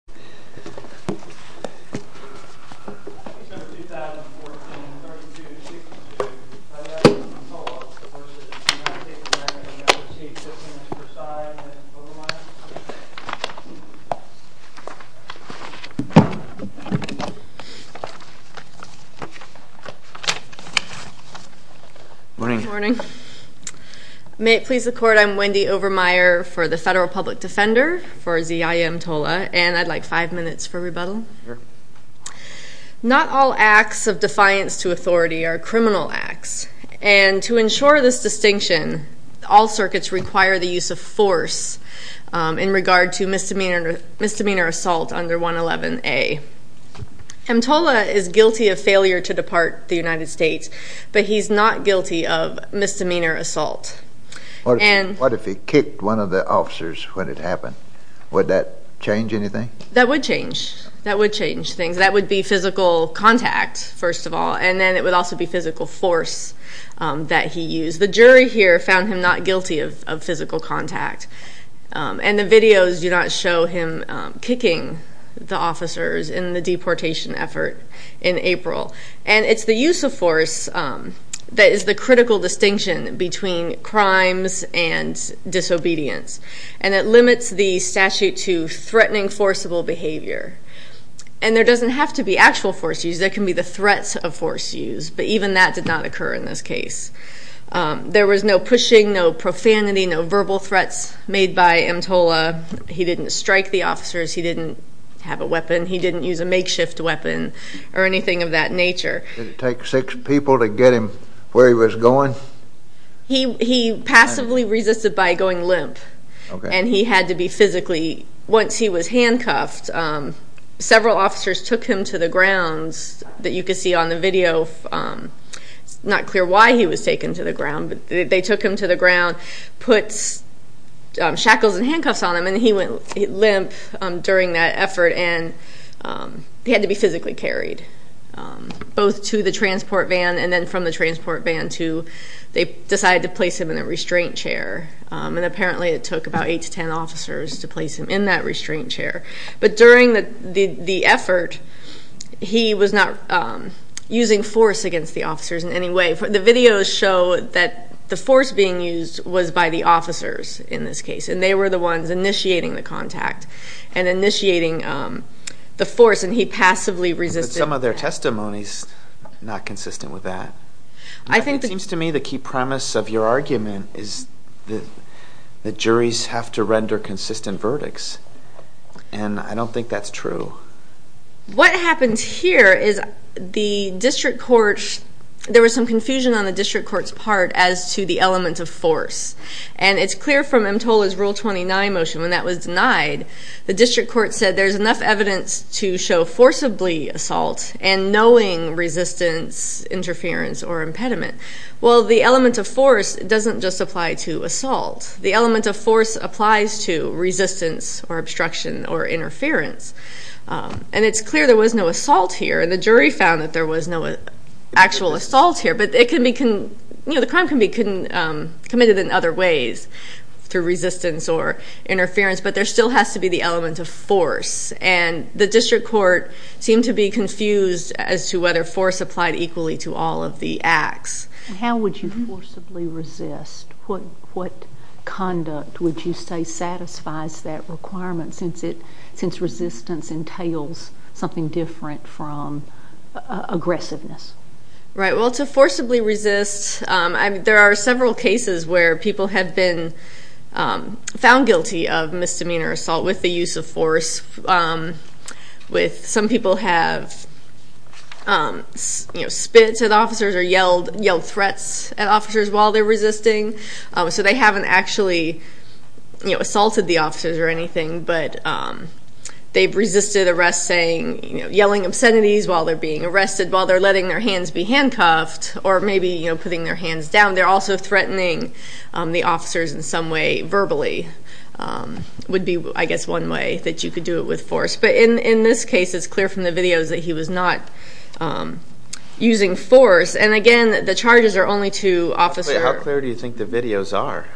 Senators 2014, 32, 62, Ziyaya Mtola v. United States Senator and Appreciate 15 Mr. Prasad and Wendy Overmeyer. Good morning. May it please the Court, I'm Wendy Overmeyer for the Federal Public Defender for Ziyaya Mtola and I'd like five minutes for rebuttal. Not all acts of defiance to authority are criminal acts and to ensure this distinction all circuits require the use of force in regard to misdemeanor assault under 111A. Mtola is guilty of failure to depart the United States, but he's not guilty of misdemeanor assault. What if he kicked one of the officers when it happened? Would that change anything? That would change. That would change things. That would be physical contact, first of all, and then it would also be physical force that he used. The jury here found him not guilty of physical contact and the videos do not show him kicking the officers in the deportation effort in April. It's the use of force that is the critical distinction between crimes and disobedience and it limits the statute to threatening forcible behavior. There doesn't have to be actual force use, there can be the threats of force use, but even that did not occur in this case. There was no pushing, no profanity, no verbal threats made by Mtola. He didn't strike the officers, he didn't have a weapon, he didn't use a makeshift weapon or anything of that nature. Did it take six people to get him where he was going? He passively resisted by going limp and he had to be physically, once he was handcuffed, several officers took him to the grounds that you can see on the video, it's not clear why he was taken to the ground, but they took him to the ground, put shackles and handcuffs on him and he went limp during that effort and he had to be physically carried both to the transport van and then from the transport van to, they decided to place him in a restraint chair and apparently it took about eight to ten officers to place him in that restraint chair. But during the effort, he was not using force against the officers in any way. The videos show that the force being used was by the officers in this case and they were the ones initiating the contact and initiating the force and he passively resisted. Some of their testimonies are not consistent with that. I think it seems to me the key premise of your argument is that the juries have to render consistent verdicts and I don't think that's true. What happens here is the district court, there was some confusion on the district court's part as to the element of force. And it's clear from EMTOLA's Rule 29 motion when that was denied, the district court said there's enough evidence to show forcibly assault and knowing resistance, interference or impediment. Well the element of force doesn't just apply to assault. The element of force applies to resistance or obstruction or interference. And it's clear there was no assault here and the jury found that there was no actual assault here but it can be, the crime can be committed in other ways through resistance or interference but there still has to be the element of force and the district court seemed to be confused as to whether force applied equally to all of the acts. How would you forcibly resist? What conduct would you say satisfies that requirement since resistance entails something different from aggressiveness? Right, well to forcibly resist, there are several cases where people have been found guilty of misdemeanor assault with the use of force with some people have spit at officers or yelled threats at officers while they're resisting so they haven't actually assaulted the officers or anything but they've resisted arrest saying, yelling obscenities while they're being arrested, while they're letting their hands be handcuffed or maybe putting their hands down. They're also threatening the officers in some way verbally would be I guess one way that you could do it with force but in this case it's clear from the videos that he was not using force and again the charges are only to officers. Wait, how clear do you think the videos are?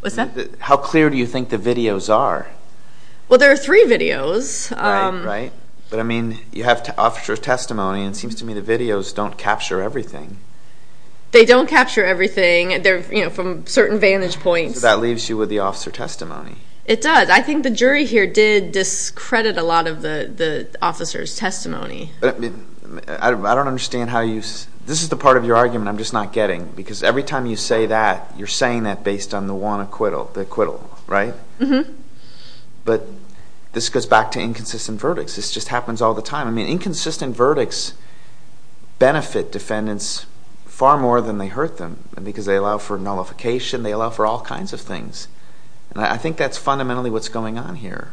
What's that? How clear do you think the videos are? Well there are three videos. Right, right. But I mean you have officer testimony and it seems to me the videos don't capture everything. They don't capture everything, they're from certain vantage points. That leaves you with the officer testimony. It does. I think the jury here did discredit a lot of the officer's testimony. I don't understand how you, this is the part of your argument I'm just not getting because every time you say that, you're saying that based on the one acquittal, the acquittal, right? Right. But this goes back to inconsistent verdicts. This just happens all the time. I mean inconsistent verdicts benefit defendants far more than they hurt them because they allow for nullification, they allow for all kinds of things and I think that's fundamentally what's going on here.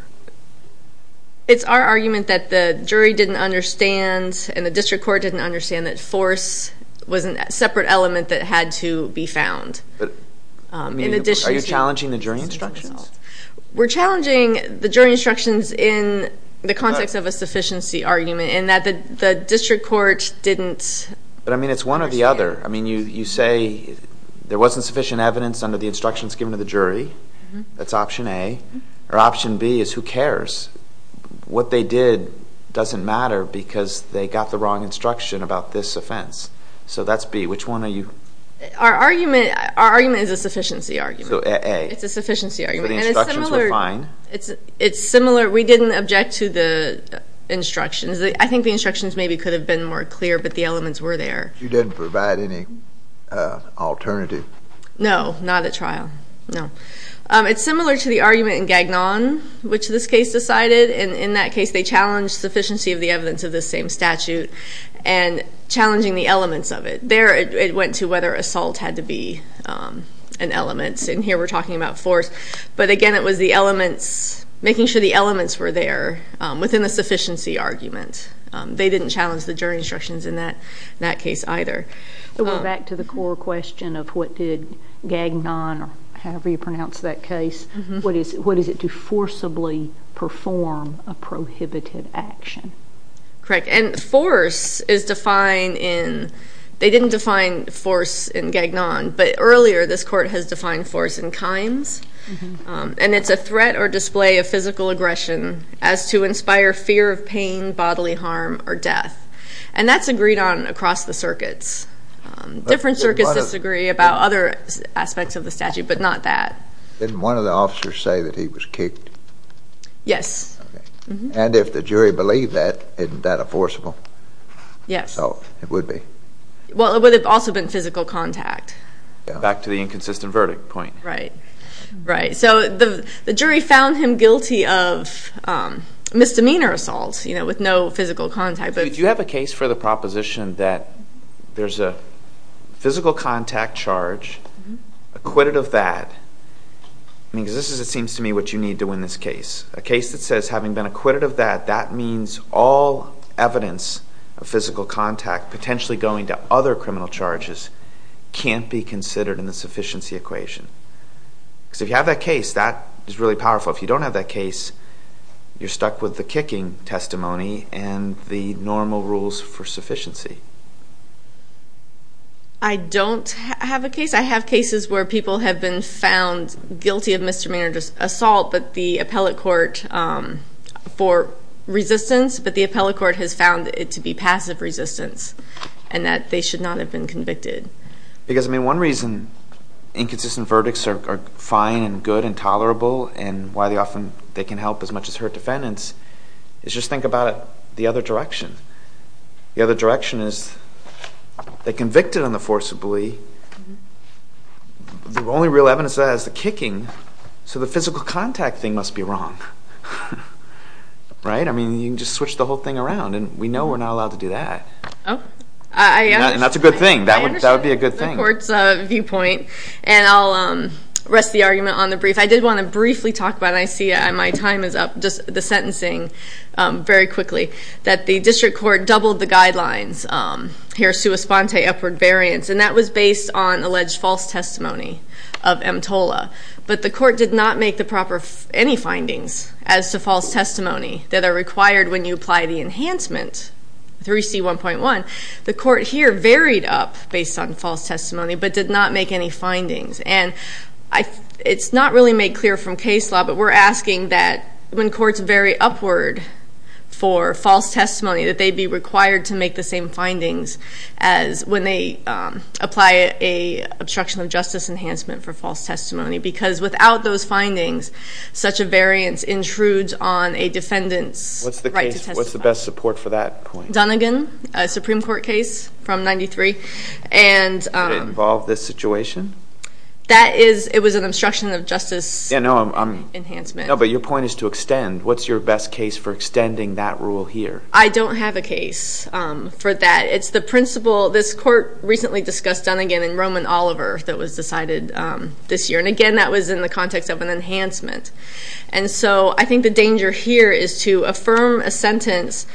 It's our argument that the jury didn't understand and the district court didn't understand that force was a separate element that had to be found. Are you challenging the jury instructions? We're challenging the jury instructions in the context of a sufficiency argument and that the district court didn't understand. But I mean it's one or the other. I mean you say there wasn't sufficient evidence under the instructions given to the jury. That's option A. Or option B is who cares? What they did doesn't matter because they got the wrong instruction about this offense. So that's B. Which one are you? Our argument is a sufficiency argument. So A. It's a sufficiency argument. So the instructions were fine? It's similar. We didn't object to the instructions. I think the instructions maybe could have been more clear but the elements were there. You didn't provide any alternative? No. Not at trial. No. It's similar to the argument in Gagnon which this case decided and in that case they challenged sufficiency of the evidence of the same statute and challenging the elements of it. There it went to whether assault had to be an element and here we're talking about force. But again it was the elements, making sure the elements were there within the sufficiency argument. They didn't challenge the jury instructions in that case either. So we're back to the core question of what did Gagnon or however you pronounce that case, what is it to forcibly perform a prohibited action? Correct. And force is defined in, they didn't define force in Gagnon but earlier this court has defined force in Kimes and it's a threat or display of physical aggression as to inspire fear of pain, bodily harm or death. And that's agreed on across the circuits. Different circuits disagree about other aspects of the statute but not that. Didn't one of the officers say that he was kicked? Yes. And if the jury believed that, isn't that a forcible assault? Yes. It would be. Well it would have also been physical contact. Back to the inconsistent verdict point. Right. So the jury found him guilty of misdemeanor assault with no physical contact. Do you have a case for the proposition that there's a physical contact charge, acquitted of that, because this is it seems to me what you need to win this case. A case that says having been acquitted of that, that means all evidence of physical contact potentially going to other criminal charges can't be considered in the sufficiency equation. Because if you have that case, that is really powerful. If you don't have that case, you're stuck with the kicking testimony and the normal rules for sufficiency. I don't have a case. I have cases where people have been found guilty of misdemeanor assault but the appellate court for resistance, but the appellate court has found it to be passive resistance and that they should not have been convicted. Because I mean one reason inconsistent verdicts are fine and good and tolerable and why they often, they can help as much as hurt defendants, is just think about it the other direction. The other direction is they convicted on the forcibly, the only real evidence of that is the kicking, so the physical contact thing must be wrong, right? I mean you can just switch the whole thing around and we know we're not allowed to do that. Oh, I understand. And that's a good thing. That would be a good thing. I understand the court's viewpoint and I'll rest the argument on the brief. I did want to briefly talk about, and I see my time is up, just the sentencing very quickly, that the district court doubled the guidelines here, sua sponte, upward variance, and that was based on alleged false testimony of EMTOLA. But the court did not make the proper, any findings as to false testimony that are required when you apply the enhancement, 3C1.1. The court here varied up based on false testimony, but did not make any findings. And it's not really made clear from case law, but we're asking that when courts vary upward for false testimony, that they be required to make the same findings as when they apply a obstruction of justice enhancement for false testimony. Because without those findings, such a variance intrudes on a defendant's right to testify. What's the best support for that point? Dunnigan, a Supreme Court case from 93. And did it involve this situation? That is, it was an obstruction of justice enhancement. Enhancement. No, but your point is to extend. What's your best case for extending that rule here? I don't have a case for that. It's the principle, this court recently discussed Dunnigan and Roman Oliver that was decided this year. And again, that was in the context of an enhancement. And so I think the danger here is to affirm a sentence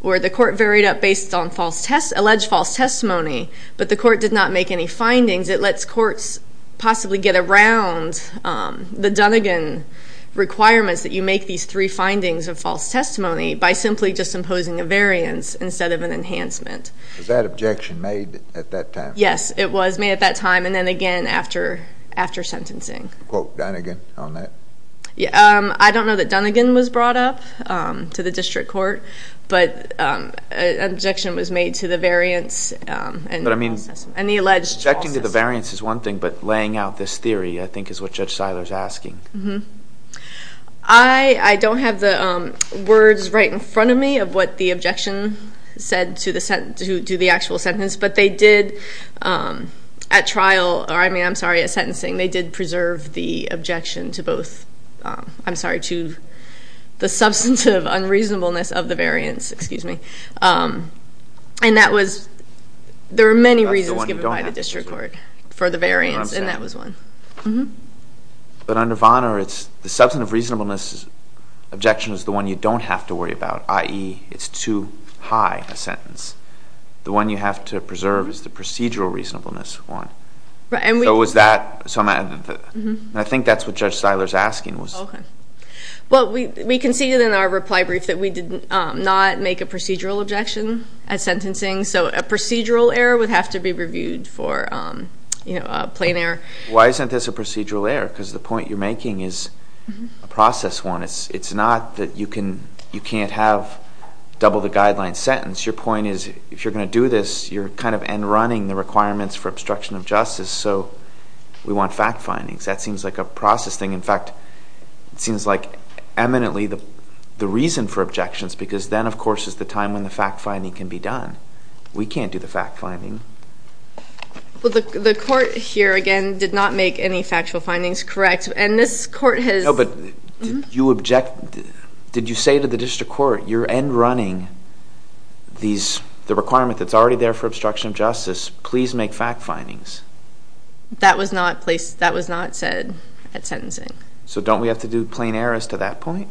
where the court varied up based on false test, alleged false testimony, but the court did not make any findings. It lets courts possibly get around the Dunnigan requirements that you make these three findings of false testimony by simply just imposing a variance instead of an enhancement. Was that objection made at that time? Yes, it was made at that time and then again after sentencing. Quote Dunnigan on that? I don't know that Dunnigan was brought up to the district court, but an objection was made to the variance and the alleged false testimony. Objecting to the variance is one thing, but laying out this theory, I think, is what Judge Seiler's asking. I don't have the words right in front of me of what the objection said to the actual sentence. But they did, at trial, or I mean, I'm sorry, at sentencing, they did preserve the objection to both. I'm sorry, to the substantive unreasonableness of the variance, excuse me. And that was, there are many reasons given by the district court for the variance, and that was one. But under Vonner, it's the substantive reasonableness objection is the one you don't have to worry about, i.e., it's too high a sentence. The one you have to preserve is the procedural reasonableness one. So was that, and I think that's what Judge Seiler's asking was. Okay, well, we conceded in our reply brief that we did not make a procedural objection at sentencing. So a procedural error would have to be reviewed for a plain error. Why isn't this a procedural error? because the point you're making is a process one. It's not that you can't have double the guideline sentence. Your point is, if you're going to do this, you're kind of end running the requirements for obstruction of justice. So we want fact findings. That seems like a process thing. In fact, it seems like eminently the reason for objections, because then, of course, is the time when the fact finding can be done. We can't do the fact finding. Well, the court here, again, did not make any factual findings correct, and this court has- No, but did you object, did you say to the district court, you're end running the requirement that's already there for obstruction of justice. Please make fact findings. That was not placed, that was not said at sentencing. So don't we have to do plain errors to that point?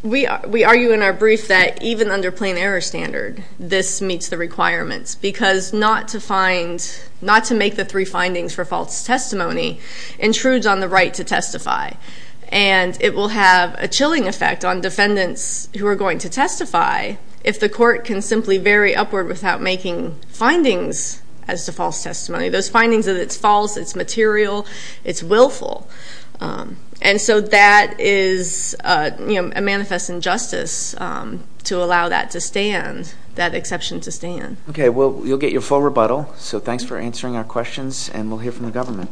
We argue in our brief that even under plain error standard, this meets the requirements. Because not to find, not to make the three findings for false testimony intrudes on the right to testify. And it will have a chilling effect on defendants who are going to testify if the court can simply vary upward without making findings as to false testimony. Those findings that it's false, it's material, it's willful. And so that is a manifest injustice to allow that to stand, that exception to stand. Okay, well, you'll get your full rebuttal. So thanks for answering our questions, and we'll hear from the government.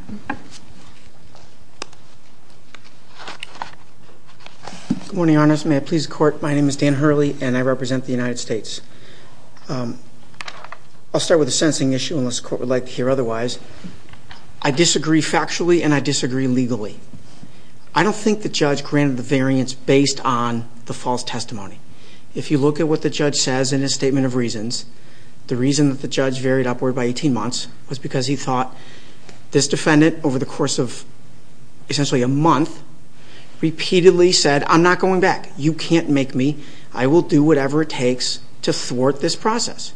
Good morning, Your Honors. May it please the court, my name is Dan Hurley, and I represent the United States. I'll start with a sensing issue, unless the court would like to hear otherwise. I disagree factually, and I disagree legally. I don't think the judge granted the variance based on the false testimony. If you look at what the judge says in his statement of reasons, the reason that the judge varied upward by 18 months was because he thought this defendant, over the course of essentially a month, repeatedly said, I'm not going back, you can't make me. I will do whatever it takes to thwart this process.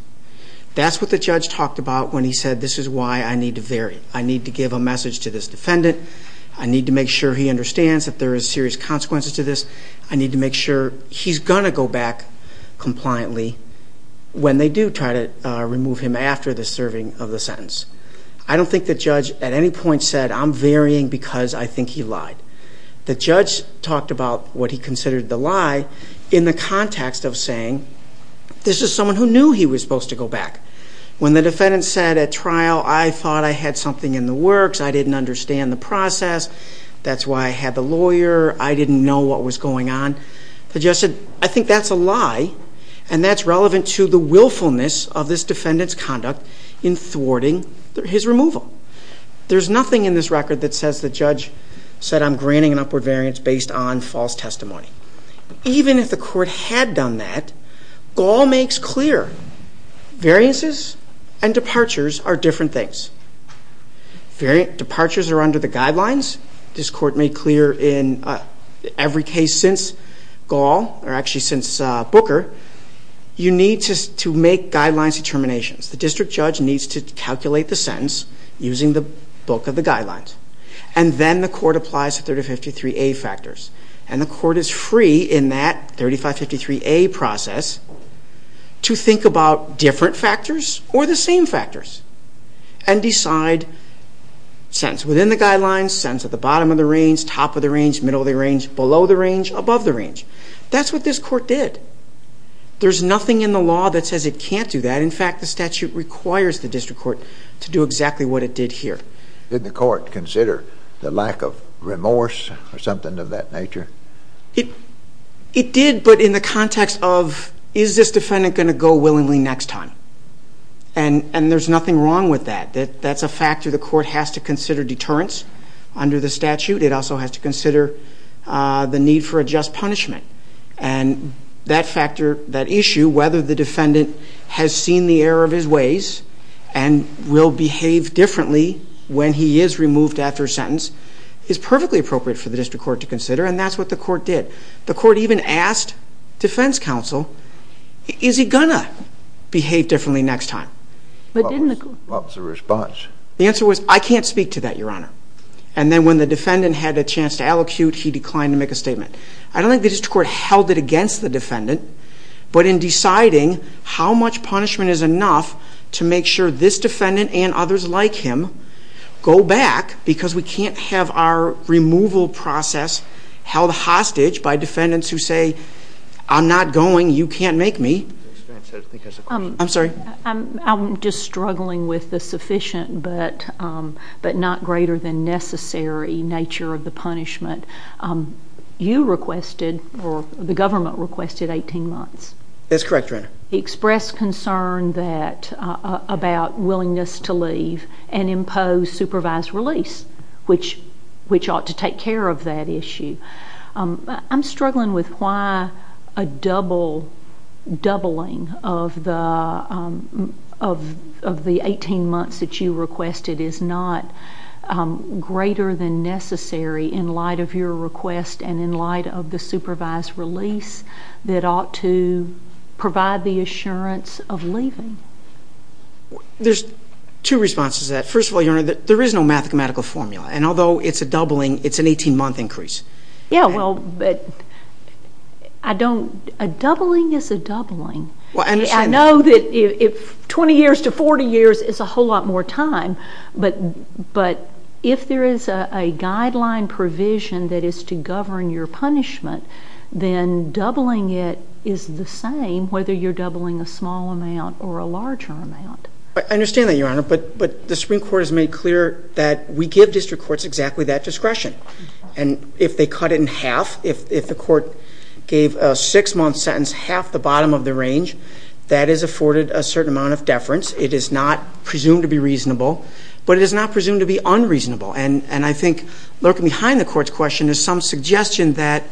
That's what the judge talked about when he said, this is why I need to vary. I need to give a message to this defendant. I need to make sure he understands that there is serious consequences to this. I need to make sure he's going to go back compliantly when they do try to remove him after the serving of the sentence. I don't think the judge at any point said, I'm varying because I think he lied. The judge talked about what he considered the lie in the context of saying, this is someone who knew he was supposed to go back. When the defendant said at trial, I thought I had something in the works. I didn't understand the process. That's why I had the lawyer. I didn't know what was going on. The judge said, I think that's a lie. And that's relevant to the willfulness of this defendant's conduct in thwarting his removal. There's nothing in this record that says the judge said I'm granting an upward variance based on false testimony. Even if the court had done that, Gaul makes clear, variances and departures are different things. Departures are under the guidelines. This court made clear in every case since Gaul, or actually since Booker, you need to make guidelines determinations. The district judge needs to calculate the sentence using the book of the guidelines. And then the court applies 353A factors. And the court is free in that 3553A process to think about different factors or the same factors. And decide sentence within the guidelines, sentence at the bottom of the range, top of the range, middle of the range, below the range, above the range. That's what this court did. There's nothing in the law that says it can't do that. But in fact, the statute requires the district court to do exactly what it did here. Did the court consider the lack of remorse or something of that nature? It did, but in the context of, is this defendant going to go willingly next time? And there's nothing wrong with that. That's a factor the court has to consider deterrence under the statute. It also has to consider the need for a just punishment. And that factor, that issue, whether the defendant has seen the error of his ways and will behave differently when he is removed after a sentence is perfectly appropriate for the district court to consider, and that's what the court did. The court even asked defense counsel, is he going to behave differently next time? But didn't the- What was the response? The answer was, I can't speak to that, your honor. And then when the defendant had a chance to allocute, he declined to make a statement. I don't think the district court held it against the defendant. But in deciding how much punishment is enough to make sure this defendant and others like him go back, because we can't have our removal process held hostage by defendants who say, I'm not going, you can't make me. I'm sorry? I'm just struggling with the sufficient but not greater than necessary nature of the punishment. You requested, or the government requested 18 months. That's correct, your honor. Express concern that, about willingness to leave and impose supervised release, which ought to take care of that issue. I'm struggling with why a double, doubling of the 18 months that you requested is not greater than necessary in light of your request and in light of the supervised release that ought to provide the assurance of leaving. There's two responses to that. First of all, your honor, there is no mathematical formula. And although it's a doubling, it's an 18 month increase. Yeah, well, but a doubling is a doubling. I know that 20 years to 40 years is a whole lot more time. But if there is a guideline provision that is to govern your punishment, then doubling it is the same whether you're doubling a small amount or a larger amount. I understand that, your honor, but the Supreme Court has made clear that we give district courts exactly that discretion. And if they cut it in half, if the court gave a six month sentence half the bottom of the range, it is not presumed to be reasonable, but it is not presumed to be unreasonable. And I think lurking behind the court's question is some suggestion that,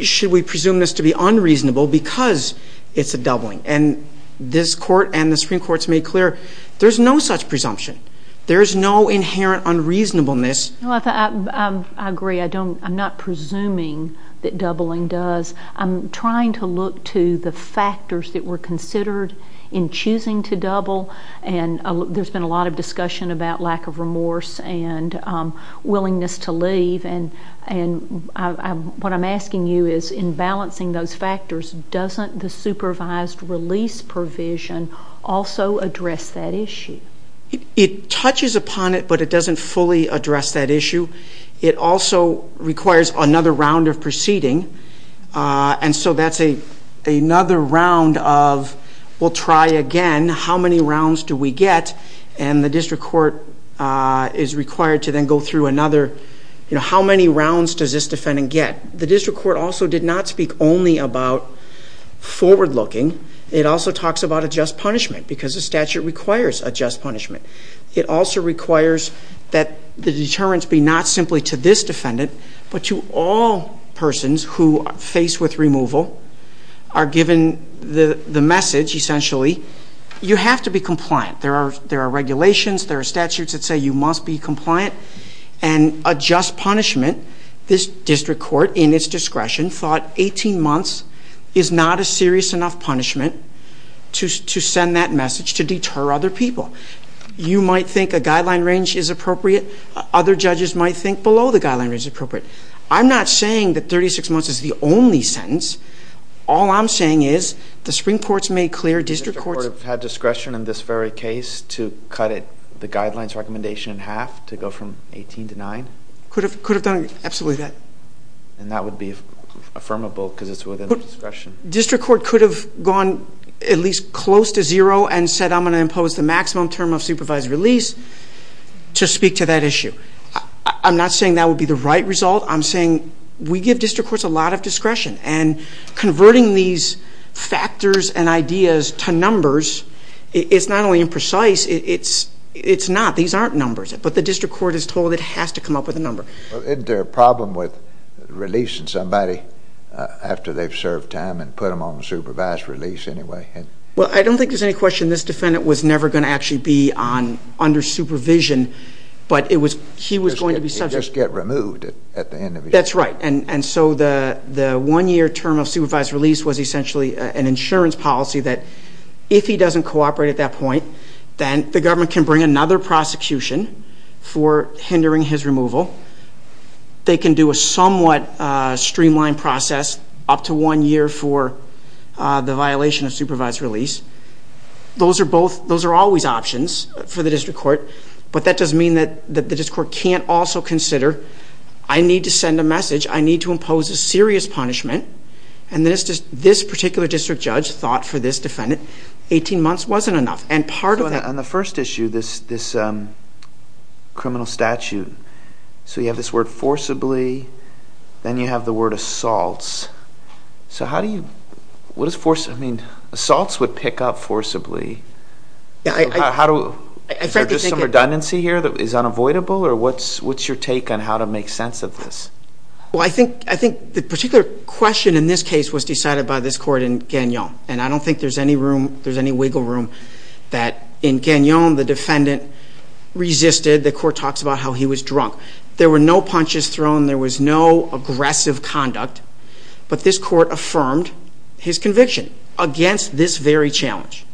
should we presume this to be unreasonable because it's a doubling? And this court and the Supreme Court's made clear, there's no such presumption. There's no inherent unreasonableness. Well, I agree, I'm not presuming that doubling does. I'm trying to look to the factors that were considered in choosing to double. And there's been a lot of discussion about lack of remorse and willingness to leave. And what I'm asking you is, in balancing those factors, doesn't the supervised release provision also address that issue? It touches upon it, but it doesn't fully address that issue. It also requires another round of proceeding. And so that's another round of, we'll try again, how many rounds do we get? And the district court is required to then go through another, how many rounds does this defendant get? The district court also did not speak only about forward looking. It also talks about a just punishment, because the statute requires a just punishment. It also requires that the deterrence be not simply to this defendant, but to all persons who are faced with removal, are given the message, essentially, you have to be compliant. There are regulations, there are statutes that say you must be compliant. And a just punishment, this district court, in its discretion, thought 18 months is not a serious enough punishment to send that message to deter other people. You might think a guideline range is appropriate. Other judges might think below the guideline range is appropriate. I'm not saying that 36 months is the only sentence. All I'm saying is, the Supreme Court's made clear district courts- The district court have had discretion in this very case to cut the guidelines recommendation in half to go from 18 to nine? Could have done absolutely that. And that would be affirmable, because it's within the discretion. District court could have gone at least close to zero and said I'm going to impose the maximum term of supervised release to speak to that issue. I'm not saying that would be the right result. I'm saying we give district courts a lot of discretion, and converting these factors and ideas to numbers is not only imprecise, it's not. These aren't numbers, but the district court is told it has to come up with a number. Isn't there a problem with releasing somebody after they've served time and put them on supervised release anyway? Well, I don't think there's any question this defendant was never going to actually be under supervision, but he was going to be subject- He'd just get removed at the end of his- That's right, and so the one year term of supervised release was essentially an insurance policy that if he doesn't cooperate at that point, then the government can bring another prosecution for hindering his removal. They can do a somewhat streamlined process, up to one year for the violation of supervised release. Those are always options for the district court, but that doesn't mean that the district court can't also consider, I need to send a message, I need to impose a serious punishment. And this particular district judge thought for this defendant, 18 months wasn't enough, and part of that- On the first issue, this criminal statute, so you have this word forcibly, then you have the word assaults. So how do you, what does forcibly mean? Assaults would pick up forcibly, is there just some redundancy here that is unavoidable, or what's your take on how to make sense of this? Well, I think the particular question in this case was decided by this court in Gagnon, and I don't think there's any room, there's any wiggle room that in Gagnon, the defendant resisted. The court talks about how he was drunk. There were no punches thrown, there was no aggressive conduct, but this court affirmed his conviction against this very challenge.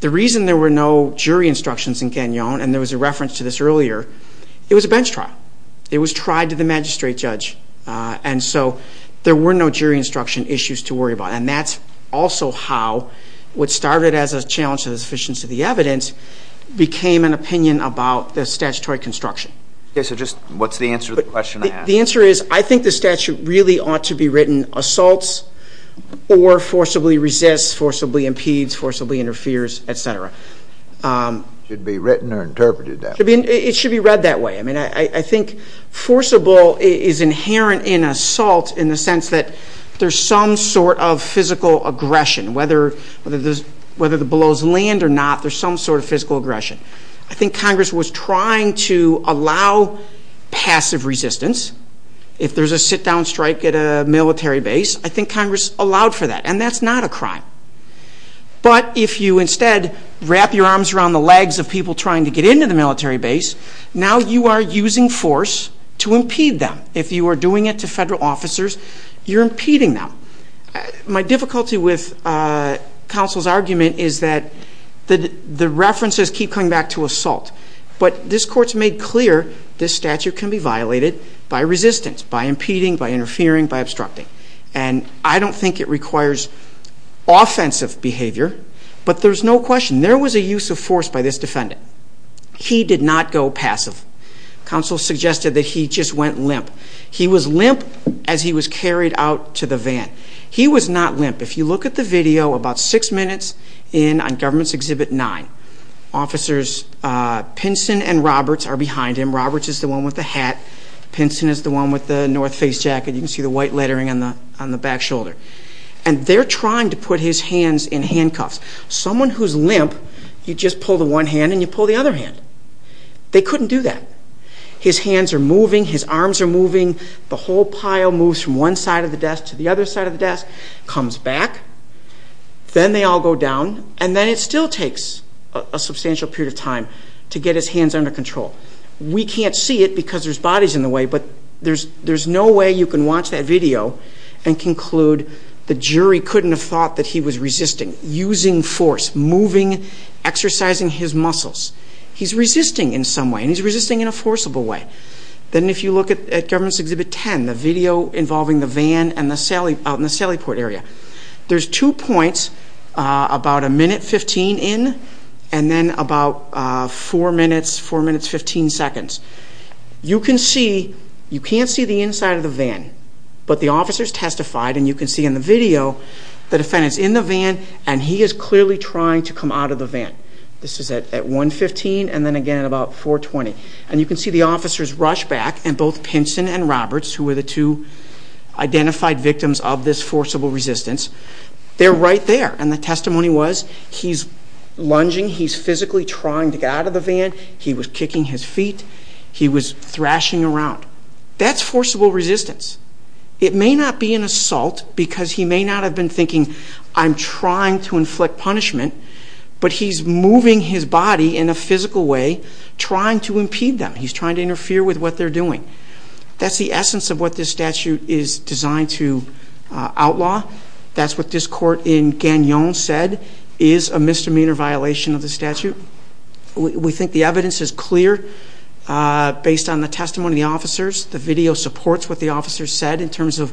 The reason there were no jury instructions in Gagnon, and there was a reference to this earlier, it was a bench trial. It was tried to the magistrate judge, and so there were no jury instruction issues to worry about. And that's also how, what started as a challenge to the sufficiency of the evidence, became an opinion about the statutory construction. Okay, so just what's the answer to the question I asked? The answer is, I think the statute really ought to be written, assaults or forcibly resists, forcibly impedes, forcibly interferes, etc. Should be written or interpreted that way. It should be read that way. I think forcible is inherent in assault in the sense that there's some sort of physical aggression. Whether the blows land or not, there's some sort of physical aggression. I think Congress was trying to allow passive resistance. If there's a sit down strike at a military base, I think Congress allowed for that, and that's not a crime. But if you instead wrap your arms around the legs of people trying to get into the military base, now you are using force to impede them. If you are doing it to federal officers, you're impeding them. My difficulty with counsel's argument is that the references keep coming back to assault. But this court's made clear this statute can be violated by resistance, by impeding, by interfering, by obstructing. And I don't think it requires offensive behavior, but there's no question. There was a use of force by this defendant. He did not go passive. Counsel suggested that he just went limp. He was limp as he was carried out to the van. He was not limp. If you look at the video about six minutes in on government's exhibit nine, officers Pinson and Roberts are behind him. Roberts is the one with the hat. Pinson is the one with the north face jacket. You can see the white lettering on the back shoulder. And they're trying to put his hands in handcuffs. Someone who's limp, you just pull the one hand and you pull the other hand. They couldn't do that. His hands are moving, his arms are moving. The whole pile moves from one side of the desk to the other side of the desk. Comes back, then they all go down, and then it still takes a substantial period of time to get his hands under control. We can't see it because there's bodies in the way, but there's no way you can watch that video and he's using force, moving, exercising his muscles. He's resisting in some way, and he's resisting in a forcible way. Then if you look at government's exhibit ten, the video involving the van out in the Sallyport area. There's two points, about a minute 15 in, and then about four minutes, four minutes 15 seconds. You can't see the inside of the van, but the officers testified, and you can see in the video, the defendant's in the van, and he is clearly trying to come out of the van. This is at 1.15, and then again at about 4.20. And you can see the officers rush back, and both Pinson and Roberts, who were the two identified victims of this forcible resistance, they're right there. And the testimony was, he's lunging, he's physically trying to get out of the van, he was kicking his feet, he was thrashing around. That's forcible resistance. It may not be an assault, because he may not have been thinking, I'm trying to inflict punishment. But he's moving his body in a physical way, trying to impede them. He's trying to interfere with what they're doing. That's the essence of what this statute is designed to outlaw. That's what this court in Gagnon said, is a misdemeanor violation of the statute. We think the evidence is clear, based on the testimony of the officers. The video supports what the officers said, in terms of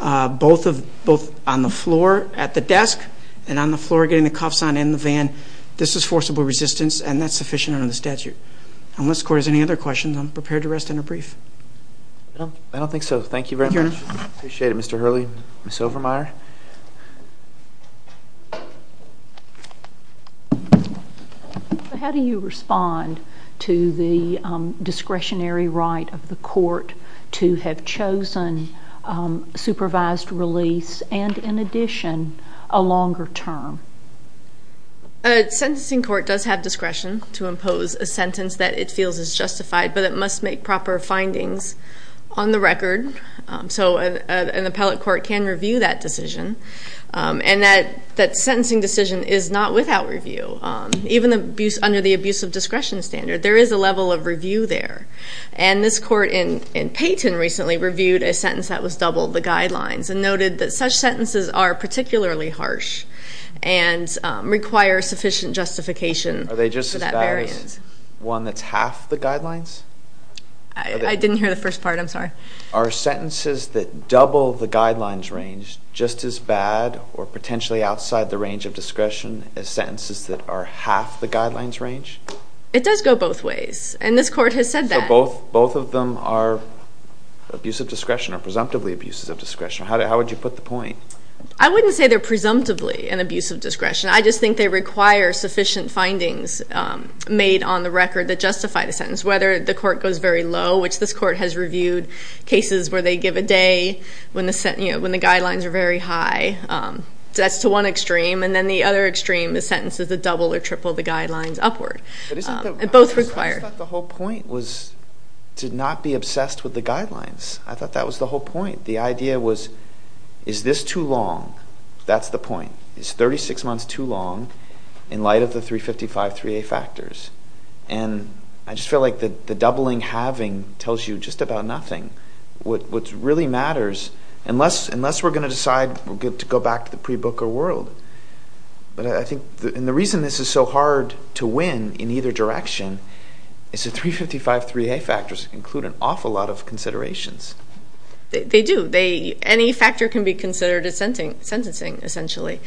both on the floor, at the desk, and on the floor getting the cuffs on in the van. This is forcible resistance, and that's sufficient under the statute. Unless the court has any other questions, I'm prepared to rest in a brief. I don't think so. Thank you very much. Thank you, Your Honor. Appreciate it, Mr. Hurley. Ms. Overmyer. How do you respond to the discretionary right of the court to have chosen supervised release, and in addition, a longer term? A sentencing court does have discretion to impose a sentence that it feels is justified, but it must make proper findings on the record. So, an appellate court can review that decision, and that sentencing decision is not without review. Even under the abuse of discretion standard, there is a level of review there. And this court in Payton recently reviewed a sentence that was double the guidelines, and noted that such sentences are particularly harsh, and require sufficient justification for that variance. Are they just as bad as one that's half the guidelines? I didn't hear the first part, I'm sorry. Are sentences that double the guidelines range just as bad or potentially outside the range of discretion as sentences that are half the guidelines range? It does go both ways, and this court has said that. Both of them are abuse of discretion, or presumptively abuses of discretion. How would you put the point? I wouldn't say they're presumptively an abuse of discretion. I just think they require sufficient findings made on the record that justify the sentence. Whether the court goes very low, which this court has reviewed cases where they give a day when the guidelines are very high. That's to one extreme, and then the other extreme is sentences that double or triple the guidelines upward. It both requires- I thought the whole point was to not be obsessed with the guidelines. I thought that was the whole point. The idea was, is this too long? That's the point. Is 36 months too long in light of the 355-3A factors? And I just feel like the doubling, halving tells you just about nothing. What really matters, unless we're going to decide to go back to the pre-Booker world. But I think, and the reason this is so hard to win in either direction, is the 355-3A factors include an awful lot of considerations. They do. Any factor can be considered a sentencing, essentially.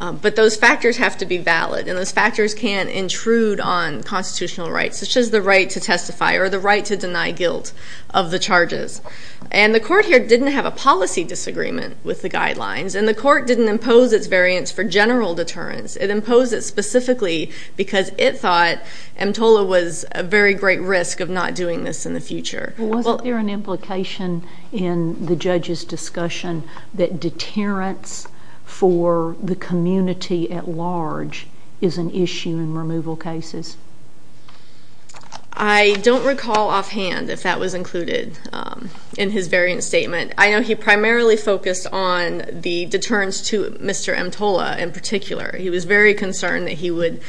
But those factors have to be valid, and those factors can intrude on constitutional rights, such as the right to testify or the right to deny guilt of the charges. And the court here didn't have a policy disagreement with the guidelines, and the court didn't impose its variance for general deterrence. It imposed it specifically because it thought EMTOLA was a very great risk of not doing this in the future. Well, wasn't there an implication in the judge's discussion that deterrence for the community at large is an issue in removal cases? I don't recall offhand if that was included in his variance statement. I know he primarily focused on the deterrence to Mr. EMTOLA in particular. He was very concerned that he would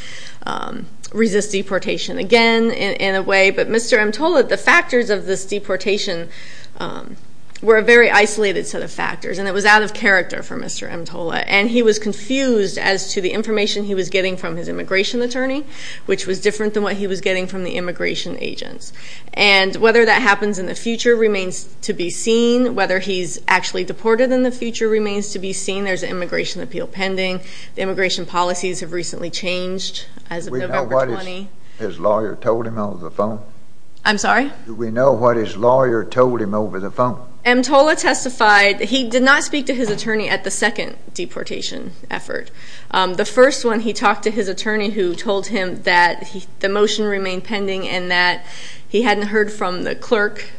resist deportation again in a way. But Mr. EMTOLA, the factors of this deportation were a very isolated set of factors. And it was out of character for Mr. EMTOLA. And he was confused as to the information he was getting from his immigration attorney, which was different than what he was getting from the immigration agents. And whether that happens in the future remains to be seen. Whether he's actually deported in the future remains to be seen. There's an immigration appeal pending. The immigration policies have recently changed as of November 20. His lawyer told him over the phone? I'm sorry? Do we know what his lawyer told him over the phone? EMTOLA testified, he did not speak to his attorney at the second deportation effort. The first one, he talked to his attorney who told him that the motion remained pending. And that he hadn't heard from the clerk.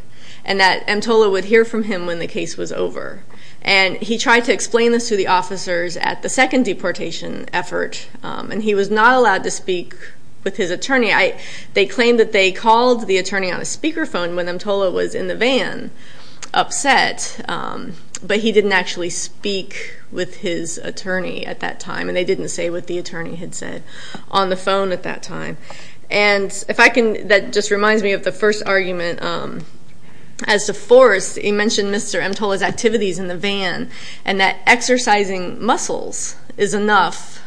And that EMTOLA would hear from him when the case was over. And he tried to explain this to the officers at the second deportation effort. And he was not allowed to speak with his attorney. They claimed that they called the attorney on a speakerphone when EMTOLA was in the van, upset. But he didn't actually speak with his attorney at that time. And they didn't say what the attorney had said on the phone at that time. And if I can, that just reminds me of the first argument. As to force, he mentioned Mr. EMTOLA's activities in the van. And that exercising muscles is enough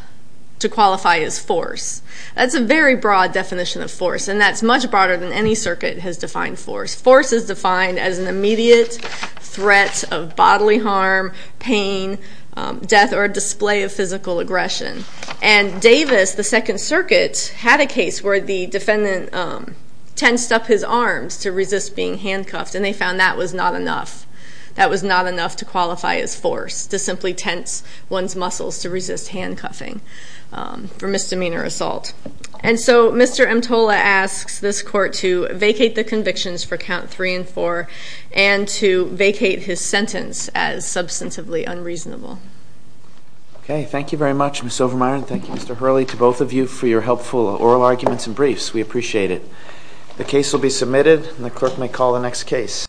to qualify as force. That's a very broad definition of force. And that's much broader than any circuit has defined force. Force is defined as an immediate threat of bodily harm, pain, death, or display of physical aggression. And Davis, the second circuit, had a case where the defendant tensed up his arms to resist being handcuffed, and they found that was not enough. That was not enough to qualify as force, to simply tense one's muscles to resist handcuffing for misdemeanor assault. And so, Mr. EMTOLA asks this court to vacate the convictions for count three and four. And to vacate his sentence as substantively unreasonable. Okay, thank you very much, Ms. Overmyer, and thank you, Mr. Hurley, to both of you for your helpful oral arguments and briefs. We appreciate it. The case will be submitted, and the clerk may call the next case.